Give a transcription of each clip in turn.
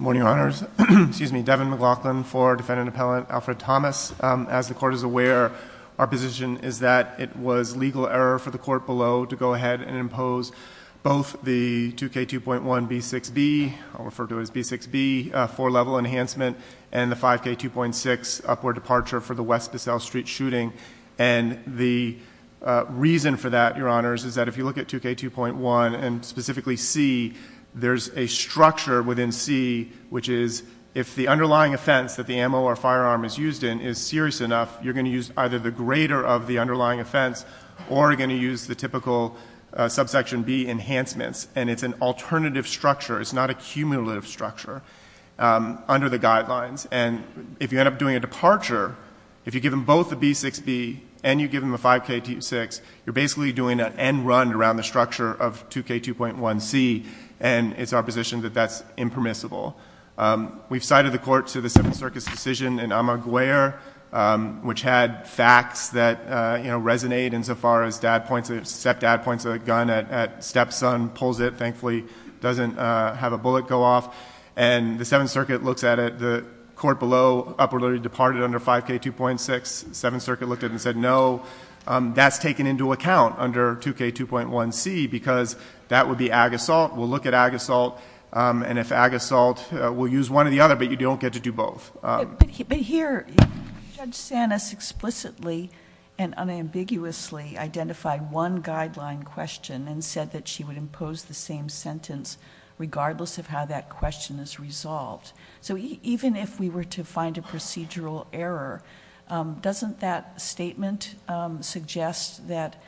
Morning, Your Honors. Excuse me, Devin McLaughlin for Defendant Appellant Alfred Thomas. As the Court is aware, our position is that it was legal error for the Court below to go to Section 6B, four-level enhancement, and the 5K2.6 upward departure for the West Bissell Street shooting. And the reason for that, Your Honors, is that if you look at 2K2.1 and specifically C, there's a structure within C which is if the underlying offense that the ammo or firearm is used in is serious enough, you're going to use either the greater of the underlying offense or you're going to use the typical Subsection B enhancements. And it's an alternative structure. It's not a cumulative structure under the guidelines. And if you end up doing a departure, if you give them both a B6B and you give them a 5K2.6, you're basically doing an end run around the structure of 2K2.1C, and it's our position that that's impermissible. We've cited the Court to the Seventh Circus decision in Amaguer which had facts that resonate insofar as stepdad points a gun at stepson, pulls it, thankfully doesn't have a bullet go off. And the Seventh Circuit looks at it. The Court below upwardly departed under 5K2.6. The Seventh Circuit looked at it and said, no, that's taken into account under 2K2.1C because that would be ag assault. We'll look at ag assault. And if ag assault, we'll use one or the other, but you don't get to do both. But here, Judge Sanis explicitly and unambiguously identified one guideline question and said that she would impose the same sentence regardless of how that question is resolved. So even if we were to find a procedural error, doesn't that statement suggest that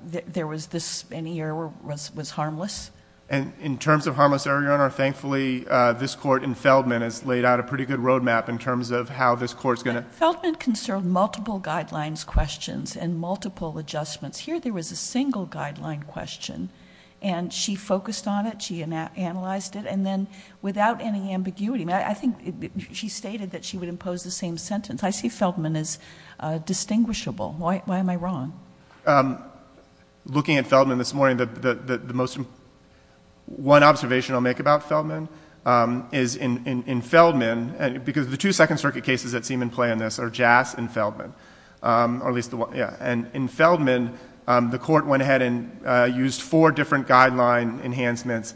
there was this, any error was harmless? And in terms of harmless error, Your Honor, thankfully this Court in Feldman has laid out a pretty good road map in terms of how this Court's going to Feldman conserved multiple guidelines questions and multiple adjustments. Here there was a single guideline question, and she focused on it, she analyzed it, and then without any ambiguity, I think she stated that she would impose the same sentence. I see Feldman as distinguishable. Why am I wrong? Looking at Feldman this morning, the most one observation I'll make about Feldman is in Feldman, because the two Second Circuit cases that seem in play in this are Jass and Feldman, or at least the one, yeah, and in Feldman, the Court went ahead and used four different guideline enhancements,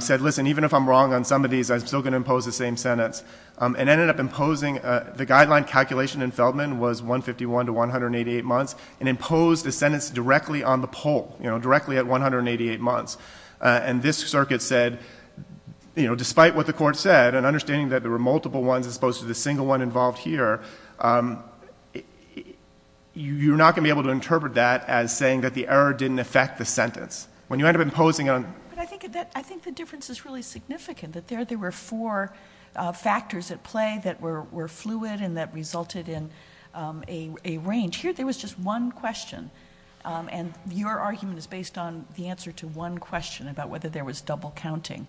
said, listen, even if I'm wrong on some of these, I'm still going to impose the same sentence, and ended up imposing, the guideline calculation in Feldman was 151 to 188 months, and imposed a sentence directly on the poll, you know, directly at 188 months. And this Circuit said, you know, despite what the Court said, and understanding that there were multiple ones as opposed to the single one involved here, you're not going to be able to interpret that as saying that the error didn't affect the sentence. When you end up imposing on... But I think the difference is really significant, that there were four factors at play that were fluid and that resulted in a range. Here there was just one question, and your argument is based on the answer to one question about whether there was double counting.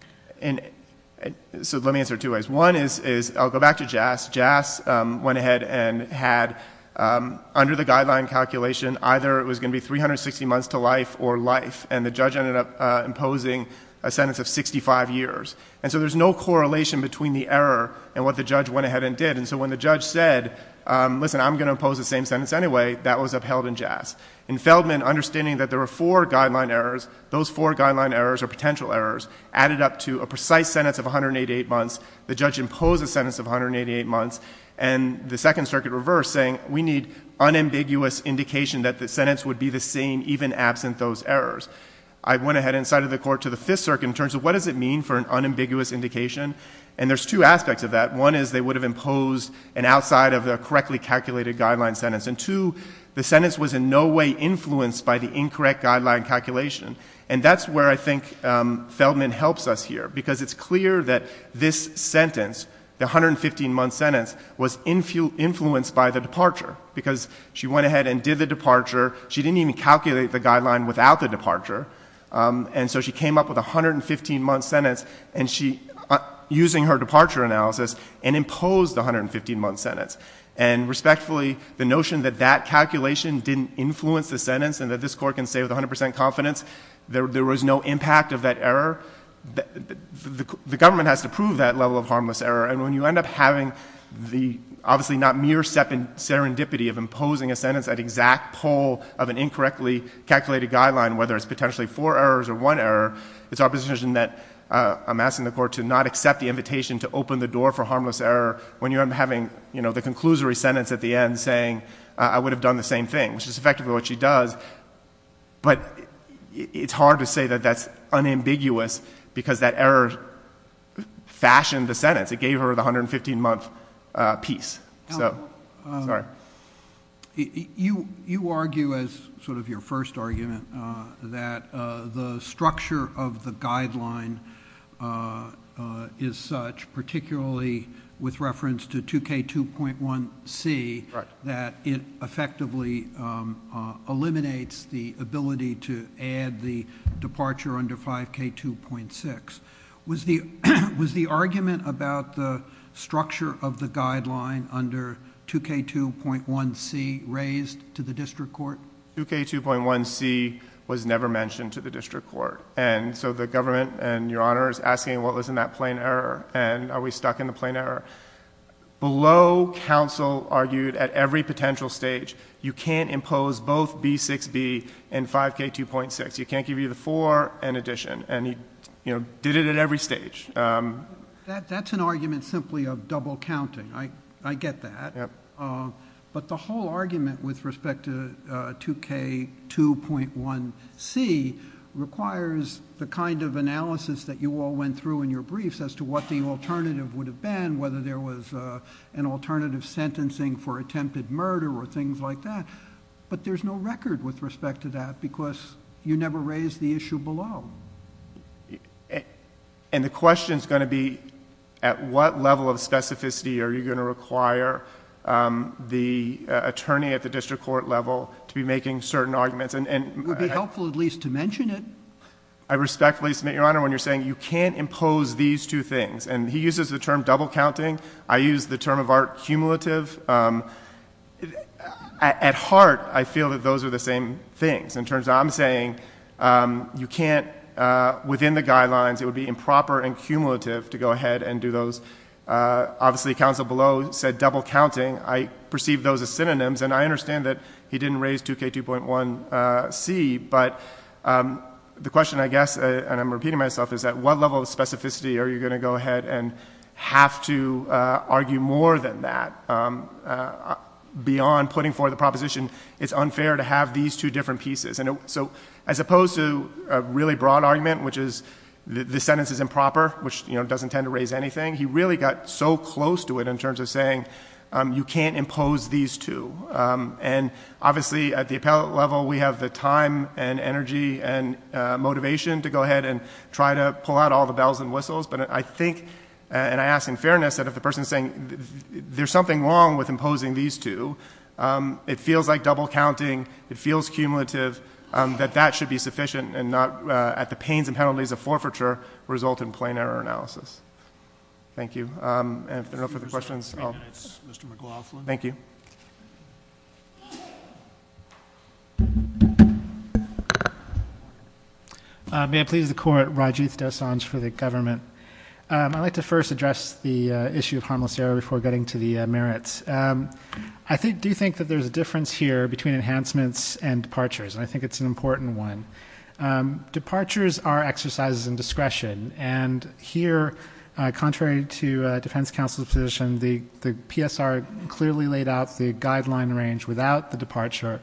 So let me answer it two ways. One is, I'll go back to Jass. Jass went ahead and had, under the guideline calculation, either it was going to be 360 months to life or life, and the judge ended up imposing a sentence of 65 years. And so there's no correlation between the error and what the judge went ahead and did. And so when the judge said, listen, I'm going to impose the same sentence anyway, that was upheld in Jass. In Feldman, understanding that there were four guideline errors, those four guideline errors or potential errors added up to a precise sentence of 188 months, the judge imposed a sentence of 188 months, and the Second Circuit reversed, saying, we need unambiguous indication that the sentence would be the same even absent those errors. I went ahead and cited the Court to the Fifth Circuit in terms of, what does it mean for an unambiguous indication? And there's two aspects of that. One is they would have imposed an outside of the correctly calculated guideline sentence. And two, the sentence was in no way influenced by the incorrect guideline calculation. And that's where I think Feldman helps us here, because it's clear that this sentence, the 115-month sentence, was influenced by the departure, because she went ahead and did the departure. She didn't even calculate the guideline without the departure. And so she came up with a 115-month sentence, and she, using her departure analysis, and imposed the 115-month sentence. And respectfully, the notion that that calculation didn't influence the sentence and that this Court can say with 100 percent confidence there was no impact of that error, the government has to prove that level of harmless error. And when you end up having the obviously not mere serendipity of imposing a sentence at exact pull of an incorrectly calculated guideline, whether it's potentially four errors or one error, it's our position that I'm asking the Court to not accept the invitation to open the door for harmless error when you end up having the conclusory sentence at the end saying, I would have done the same thing, which is effectively what she does. But it's hard to say that that's unambiguous because that error fashioned the sentence. It gave her the 115-month piece. Sorry. You argue as sort of your first argument that the structure of the guideline is such, particularly with reference to 2K2.1C, that it effectively eliminates the ability to add the departure under 5K2.6. Was the argument about the structure of the guideline under 2K2.1C raised to the district court? 2K2.1C was never mentioned to the district court. And so the government and Your Honor is asking, well, isn't that plain error? And are we stuck in the plain error? Below counsel argued at every potential stage, you can't impose both B6B and 5K2.6. You can't give either 4 and addition. And he did it at every stage. That's an argument simply of double counting. I get that. But the whole argument with respect to 2K2.1C requires the kind of analysis that you all went through in your briefs as to what the alternative would have been, whether there was an alternative sentencing for attempted murder or things like that. But there's no record with respect to that because you never raised the issue below. And the question is going to be at what level of specificity are you going to require the attorney at the district court level to be making certain arguments? It would be helpful at least to mention it. I respectfully submit, Your Honor, when you're saying you can't impose these two things. And he uses the term double counting. I use the term of art cumulative. At heart, I feel that those are the same things. In terms of I'm saying you can't within the guidelines, it would be improper and cumulative to go ahead and do those. Obviously, counsel below said double counting. I perceive those as synonyms. And I understand that he didn't raise 2K2.1C. But the question, I guess, and I'm repeating myself, is at what level of specificity are you going to go ahead and have to argue more than that? Beyond putting forth a proposition, it's unfair to have these two different pieces. So as opposed to a really broad argument, which is the sentence is improper, which doesn't tend to raise anything, he really got so close to it in terms of saying you can't impose these two. And obviously, at the appellate level, we have the time and energy and motivation to go ahead and try to pull out all the bells and whistles. But I think, and I ask in fairness, that if the person is saying there's something wrong with imposing these two, it feels like double counting, it feels cumulative, that that should be sufficient and not at the pains and penalties of forfeiture result in plain error analysis. Thank you. And if there are no further questions, I'll go. Thank you. Thank you. May I please the court, Rajiv Dosanjh for the government. I'd like to first address the issue of harmless error before getting to the merits. I do think that there's a difference here between enhancements and departures, and I think it's an important one. Departures are exercises in discretion. And here, contrary to defense counsel's position, the PSR clearly laid out the guideline range without the departure.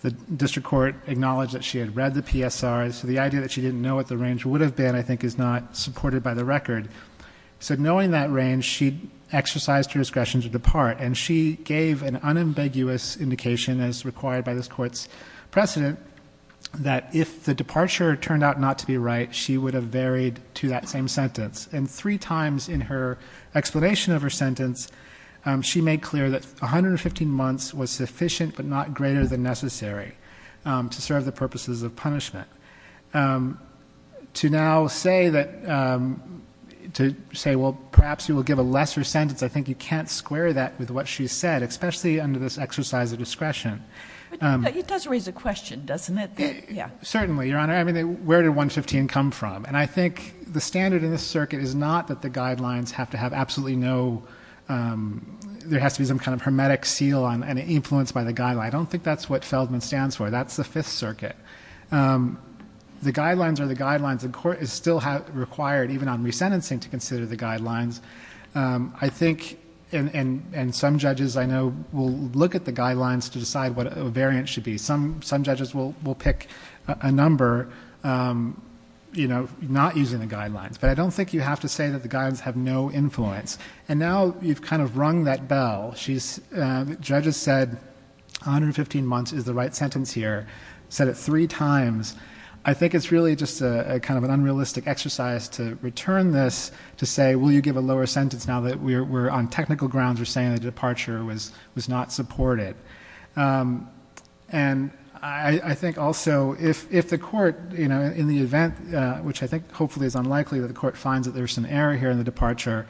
The district court acknowledged that she had read the PSR, so the idea that she didn't know what the range would have been, I think, is not supported by the record. So knowing that range, she exercised her discretion to depart, and she gave an unambiguous indication, as required by this court's precedent, that if the departure turned out not to be right, she would have varied to that same sentence. And three times in her explanation of her sentence, she made clear that 115 months was sufficient but not greater than necessary to serve the purposes of punishment. To now say that to say, well, perhaps you will give a lesser sentence, I think you can't square that with what she said, especially under this exercise of discretion. It does raise a question, doesn't it? Certainly, Your Honor. I mean, where did 115 come from? And I think the standard in this circuit is not that the guidelines have to have absolutely no ‑‑ there has to be some kind of hermetic seal and influence by the guideline. I don't think that's what Feldman stands for. That's the Fifth Circuit. The guidelines are the guidelines. The court is still required, even on resentencing, to consider the guidelines. I think, and some judges, I know, will look at the guidelines to decide what a variant should be. Some judges will pick a number, you know, not using the guidelines. But I don't think you have to say that the guidelines have no influence. And now you've kind of rung that bell. Judges said 115 months is the right sentence here, said it three times. I think it's really just kind of an unrealistic exercise to return this to say, will you give a lower sentence now that we're on technical grounds or saying the departure was not supported. And I think also if the court, you know, in the event, which I think hopefully is unlikely, that the court finds that there's some error here in the departure,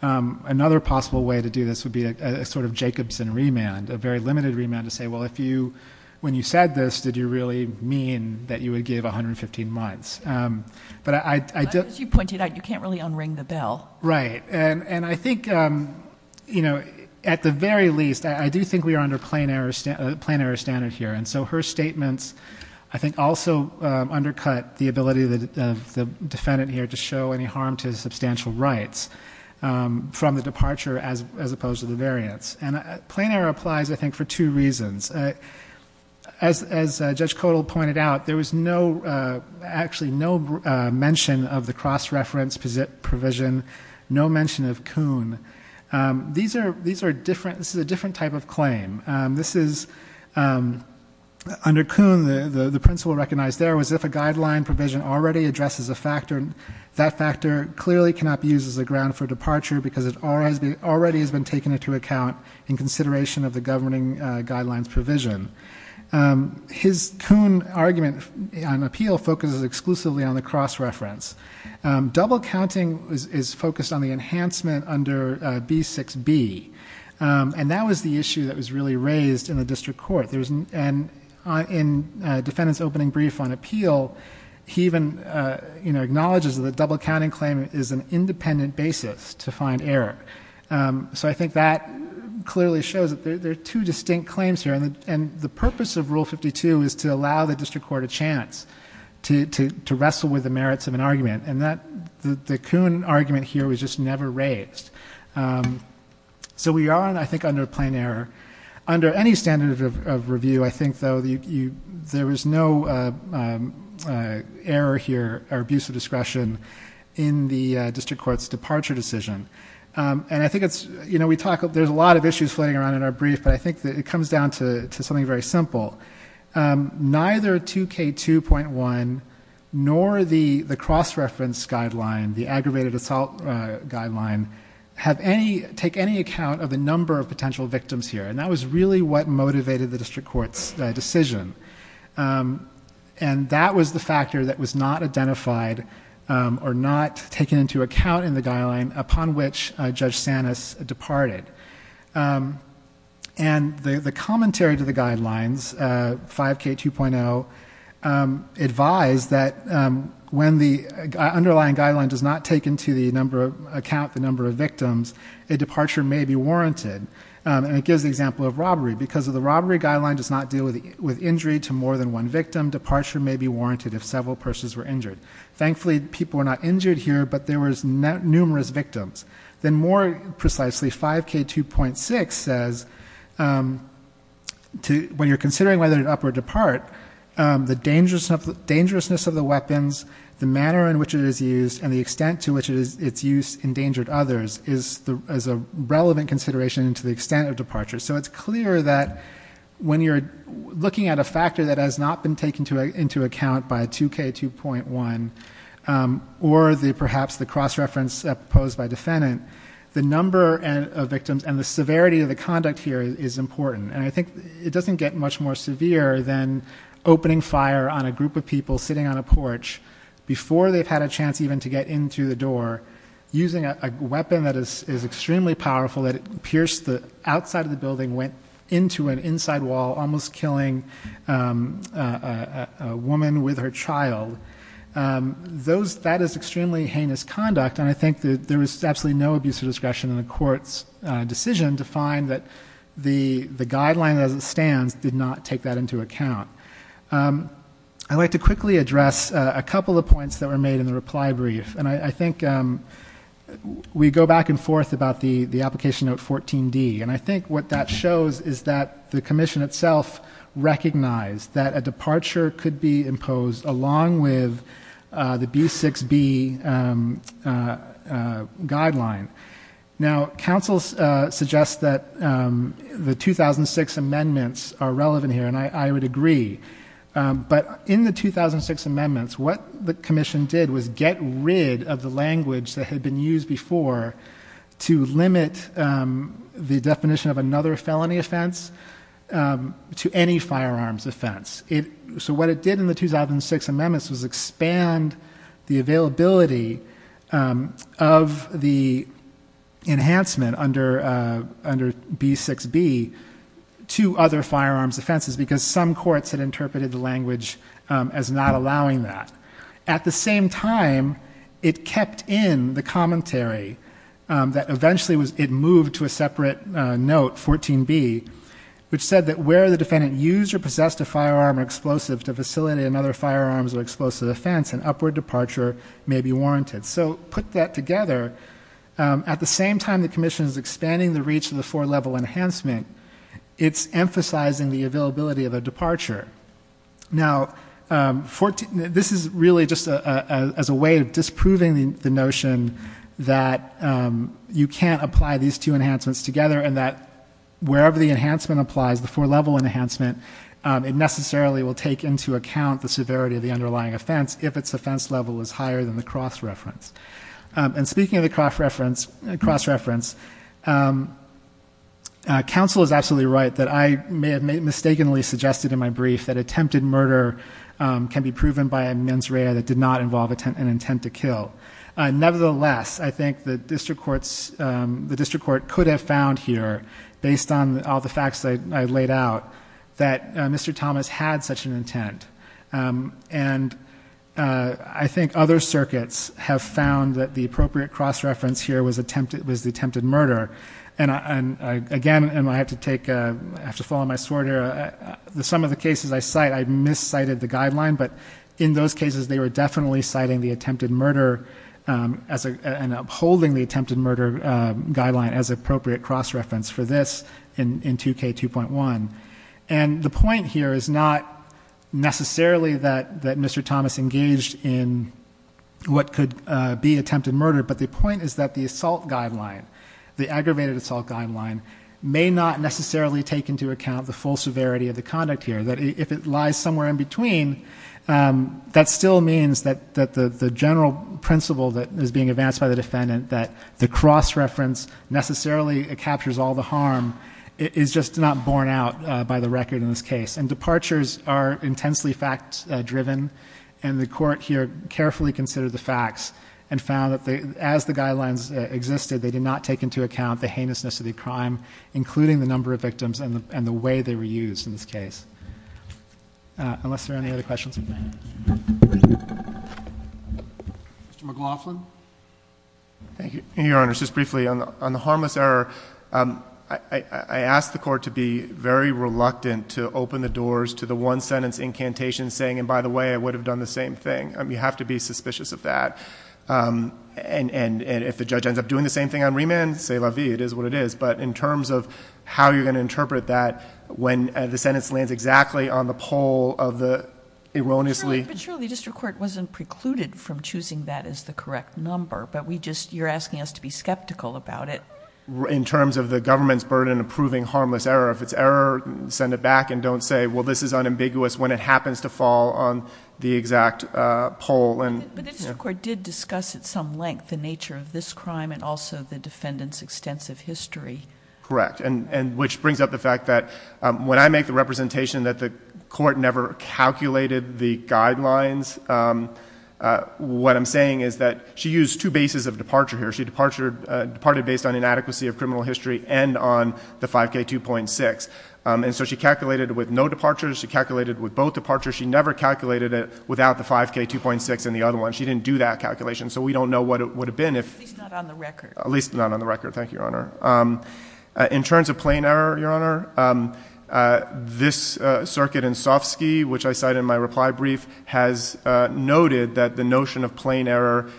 another possible way to do this would be a sort of Jacobson remand, a very limited remand to say, well, if you, when you said this, did you really mean that you would give 115 months. But I don't... As you pointed out, you can't really unring the bell. Right. And I think, you know, at the very least, I do think we are under plain error standard here. And so her statements, I think, also undercut the ability of the defendant here to show any harm to substantial rights from the departure as opposed to the variants. And plain error applies, I think, for two reasons. As Judge Kodal pointed out, there was no, actually no mention of the cross-reference provision, no mention of Kuhn. These are different, this is a different type of claim. This is, under Kuhn, the principle recognized there was if a guideline provision already addresses a factor, that factor clearly cannot be used as a ground for departure because it already has been taken into account in consideration of the governing guidelines provision. His Kuhn argument on appeal focuses exclusively on the cross-reference. Double counting is focused on the enhancement under B6B. And that was the issue that was really raised in the district court. And in defendant's opening brief on appeal, he even, you know, acknowledges that the double counting claim is an independent basis to find error. So I think that clearly shows that there are two distinct claims here. And the purpose of Rule 52 is to allow the district court a chance to wrestle with the merits of an argument. And the Kuhn argument here was just never raised. So we are, I think, under plain error. Under any standard of review, I think, though, there was no error here or abuse of discretion in the district court's departure decision. And I think it's, you know, we talk, there's a lot of issues floating around in our brief, but I think it comes down to something very simple. Neither 2K2.1 nor the cross-reference guideline, the aggravated assault guideline, have any, take any account of the number of potential victims here. And that was really what motivated the district court's decision. And that was the factor that was not identified or not taken into account in the guideline upon which Judge Sanis departed. And the commentary to the guidelines, 5K2.0, advised that when the underlying guideline does not take into account the number of victims, a departure may be warranted. And it gives the example of robbery. Because the robbery guideline does not deal with injury to more than one victim, departure may be warranted if several persons were injured. Thankfully, people were not injured here, but there were numerous victims. Then more precisely, 5K2.6 says, when you're considering whether to up or depart, the dangerousness of the weapons, the manner in which it is used, and the extent to which its use endangered others is a relevant consideration to the extent of departure. So it's clear that when you're looking at a factor that has not been taken into account by 2K2.1 or perhaps the cross-reference posed by defendant, the number of victims and the severity of the conduct here is important. And I think it doesn't get much more severe than opening fire on a group of people sitting on a porch before they've had a chance even to get in through the door, using a weapon that is extremely powerful that it pierced the outside of the building, went into an inside wall, almost killing a woman with her child. That is extremely heinous conduct, and I think there was absolutely no abuse of discretion in the court's decision to find that the guideline as it stands did not take that into account. I'd like to quickly address a couple of points that were made in the reply brief, and I think we go back and forth about the application note 14D, and I think what that shows is that the commission itself recognized that a departure could be imposed along with the B6B guideline. Now, counsel suggests that the 2006 amendments are relevant here, and I would agree. But in the 2006 amendments, what the commission did was get rid of the language that had been used before to limit the definition of another felony offense to any firearms offense. So what it did in the 2006 amendments was expand the availability of the enhancement under B6B to other firearms offenses because some courts had interpreted the language as not allowing that. At the same time, it kept in the commentary that eventually it moved to a separate note, 14B, which said that where the defendant used or possessed a firearm or explosive to facilitate another firearms or explosive offense, an upward departure may be warranted. So put that together. At the same time the commission is expanding the reach of the four-level enhancement, it's emphasizing the availability of a departure. Now, this is really just as a way of disproving the notion that you can't apply these two enhancements together and that wherever the enhancement applies, the four-level enhancement, it necessarily will take into account the severity of the underlying offense if its offense level is higher than the cross-reference. And speaking of the cross-reference, counsel is absolutely right that I may have mistakenly suggested in my brief that attempted murder can be proven by a mens rea that did not involve an intent to kill. Nevertheless, I think the district court could have found here, based on all the facts that I laid out, that Mr. Thomas had such an intent. And I think other circuits have found that the appropriate cross-reference here was the attempted murder. And again, I have to follow my sword here. Some of the cases I cite, I've miscited the guideline, but in those cases they were definitely citing the attempted murder and upholding the attempted murder guideline as appropriate cross-reference for this in 2K2.1. And the point here is not necessarily that Mr. Thomas engaged in what could be attempted murder, but the point is that the assault guideline, the aggravated assault guideline, may not necessarily take into account the full severity of the conduct here, that if it lies somewhere in between, that still means that the general principle that is being advanced by the defendant, that the cross-reference necessarily captures all the harm, is just not borne out by the record in this case. And departures are intensely fact-driven, and the Court here carefully considered the facts and found that as the guidelines existed, they did not take into account the heinousness of the crime, including the number of victims and the way they were used in this case. Unless there are any other questions? Mr. McLaughlin? Thank you, Your Honor. Just briefly, on the harmless error, I ask the Court to be very reluctant to open the doors to the one-sentence incantation saying, and by the way, I would have done the same thing. You have to be suspicious of that. And if the judge ends up doing the same thing on remand, c'est la vie, it is what it is. But in terms of how you're going to interpret that when the sentence lands exactly on the pole of the erroneously— But surely the district court wasn't precluded from choosing that as the correct number, but you're asking us to be skeptical about it. In terms of the government's burden of proving harmless error, if it's error, send it back and don't say, well, this is unambiguous when it happens to fall on the exact pole. But the district court did discuss at some length the nature of this crime and also the defendant's extensive history. Correct, which brings up the fact that when I make the representation that the court never calculated the guidelines, what I'm saying is that she used two bases of departure here. She departed based on inadequacy of criminal history and on the 5K2.6. And so she calculated with no departures. She calculated with both departures. She never calculated it without the 5K2.6 and the other one. She didn't do that calculation, so we don't know what it would have been if— At least not on the record. At least not on the record. Thank you, Your Honor. In terms of plain error, Your Honor, this circuit in Sofsky, which I cite in my reply brief, has noted that the notion of plain error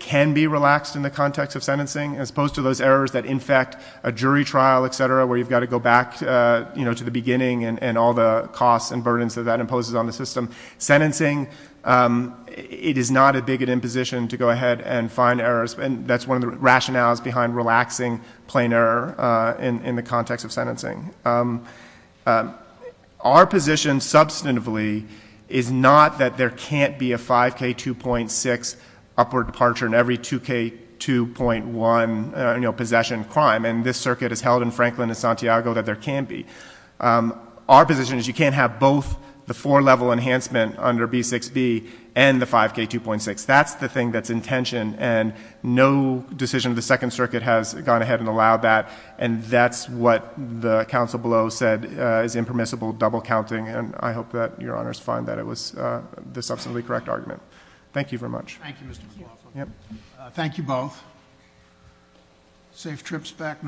can be relaxed in the context of sentencing as opposed to those errors that infect a jury trial, et cetera, where you've got to go back to the beginning and all the costs and burdens that that imposes on the system. Sentencing, it is not a bigoted imposition to go ahead and find errors. That's one of the rationales behind relaxing plain error in the context of sentencing. Our position substantively is not that there can't be a 5K2.6 upward departure in every 2K2.1 possession crime. And this circuit is held in Franklin and Santiago that there can be. Our position is you can't have both the four-level enhancement under B6B and the 5K2.6. That's the thing that's in tension, and no decision of the Second Circuit has gone ahead and allowed that. And that's what the counsel below said is impermissible double counting, and I hope that Your Honor's find that it was the substantively correct argument. Thank you very much. Thank you, Mr. McLaughlin. Thank you both. Safe trips back north.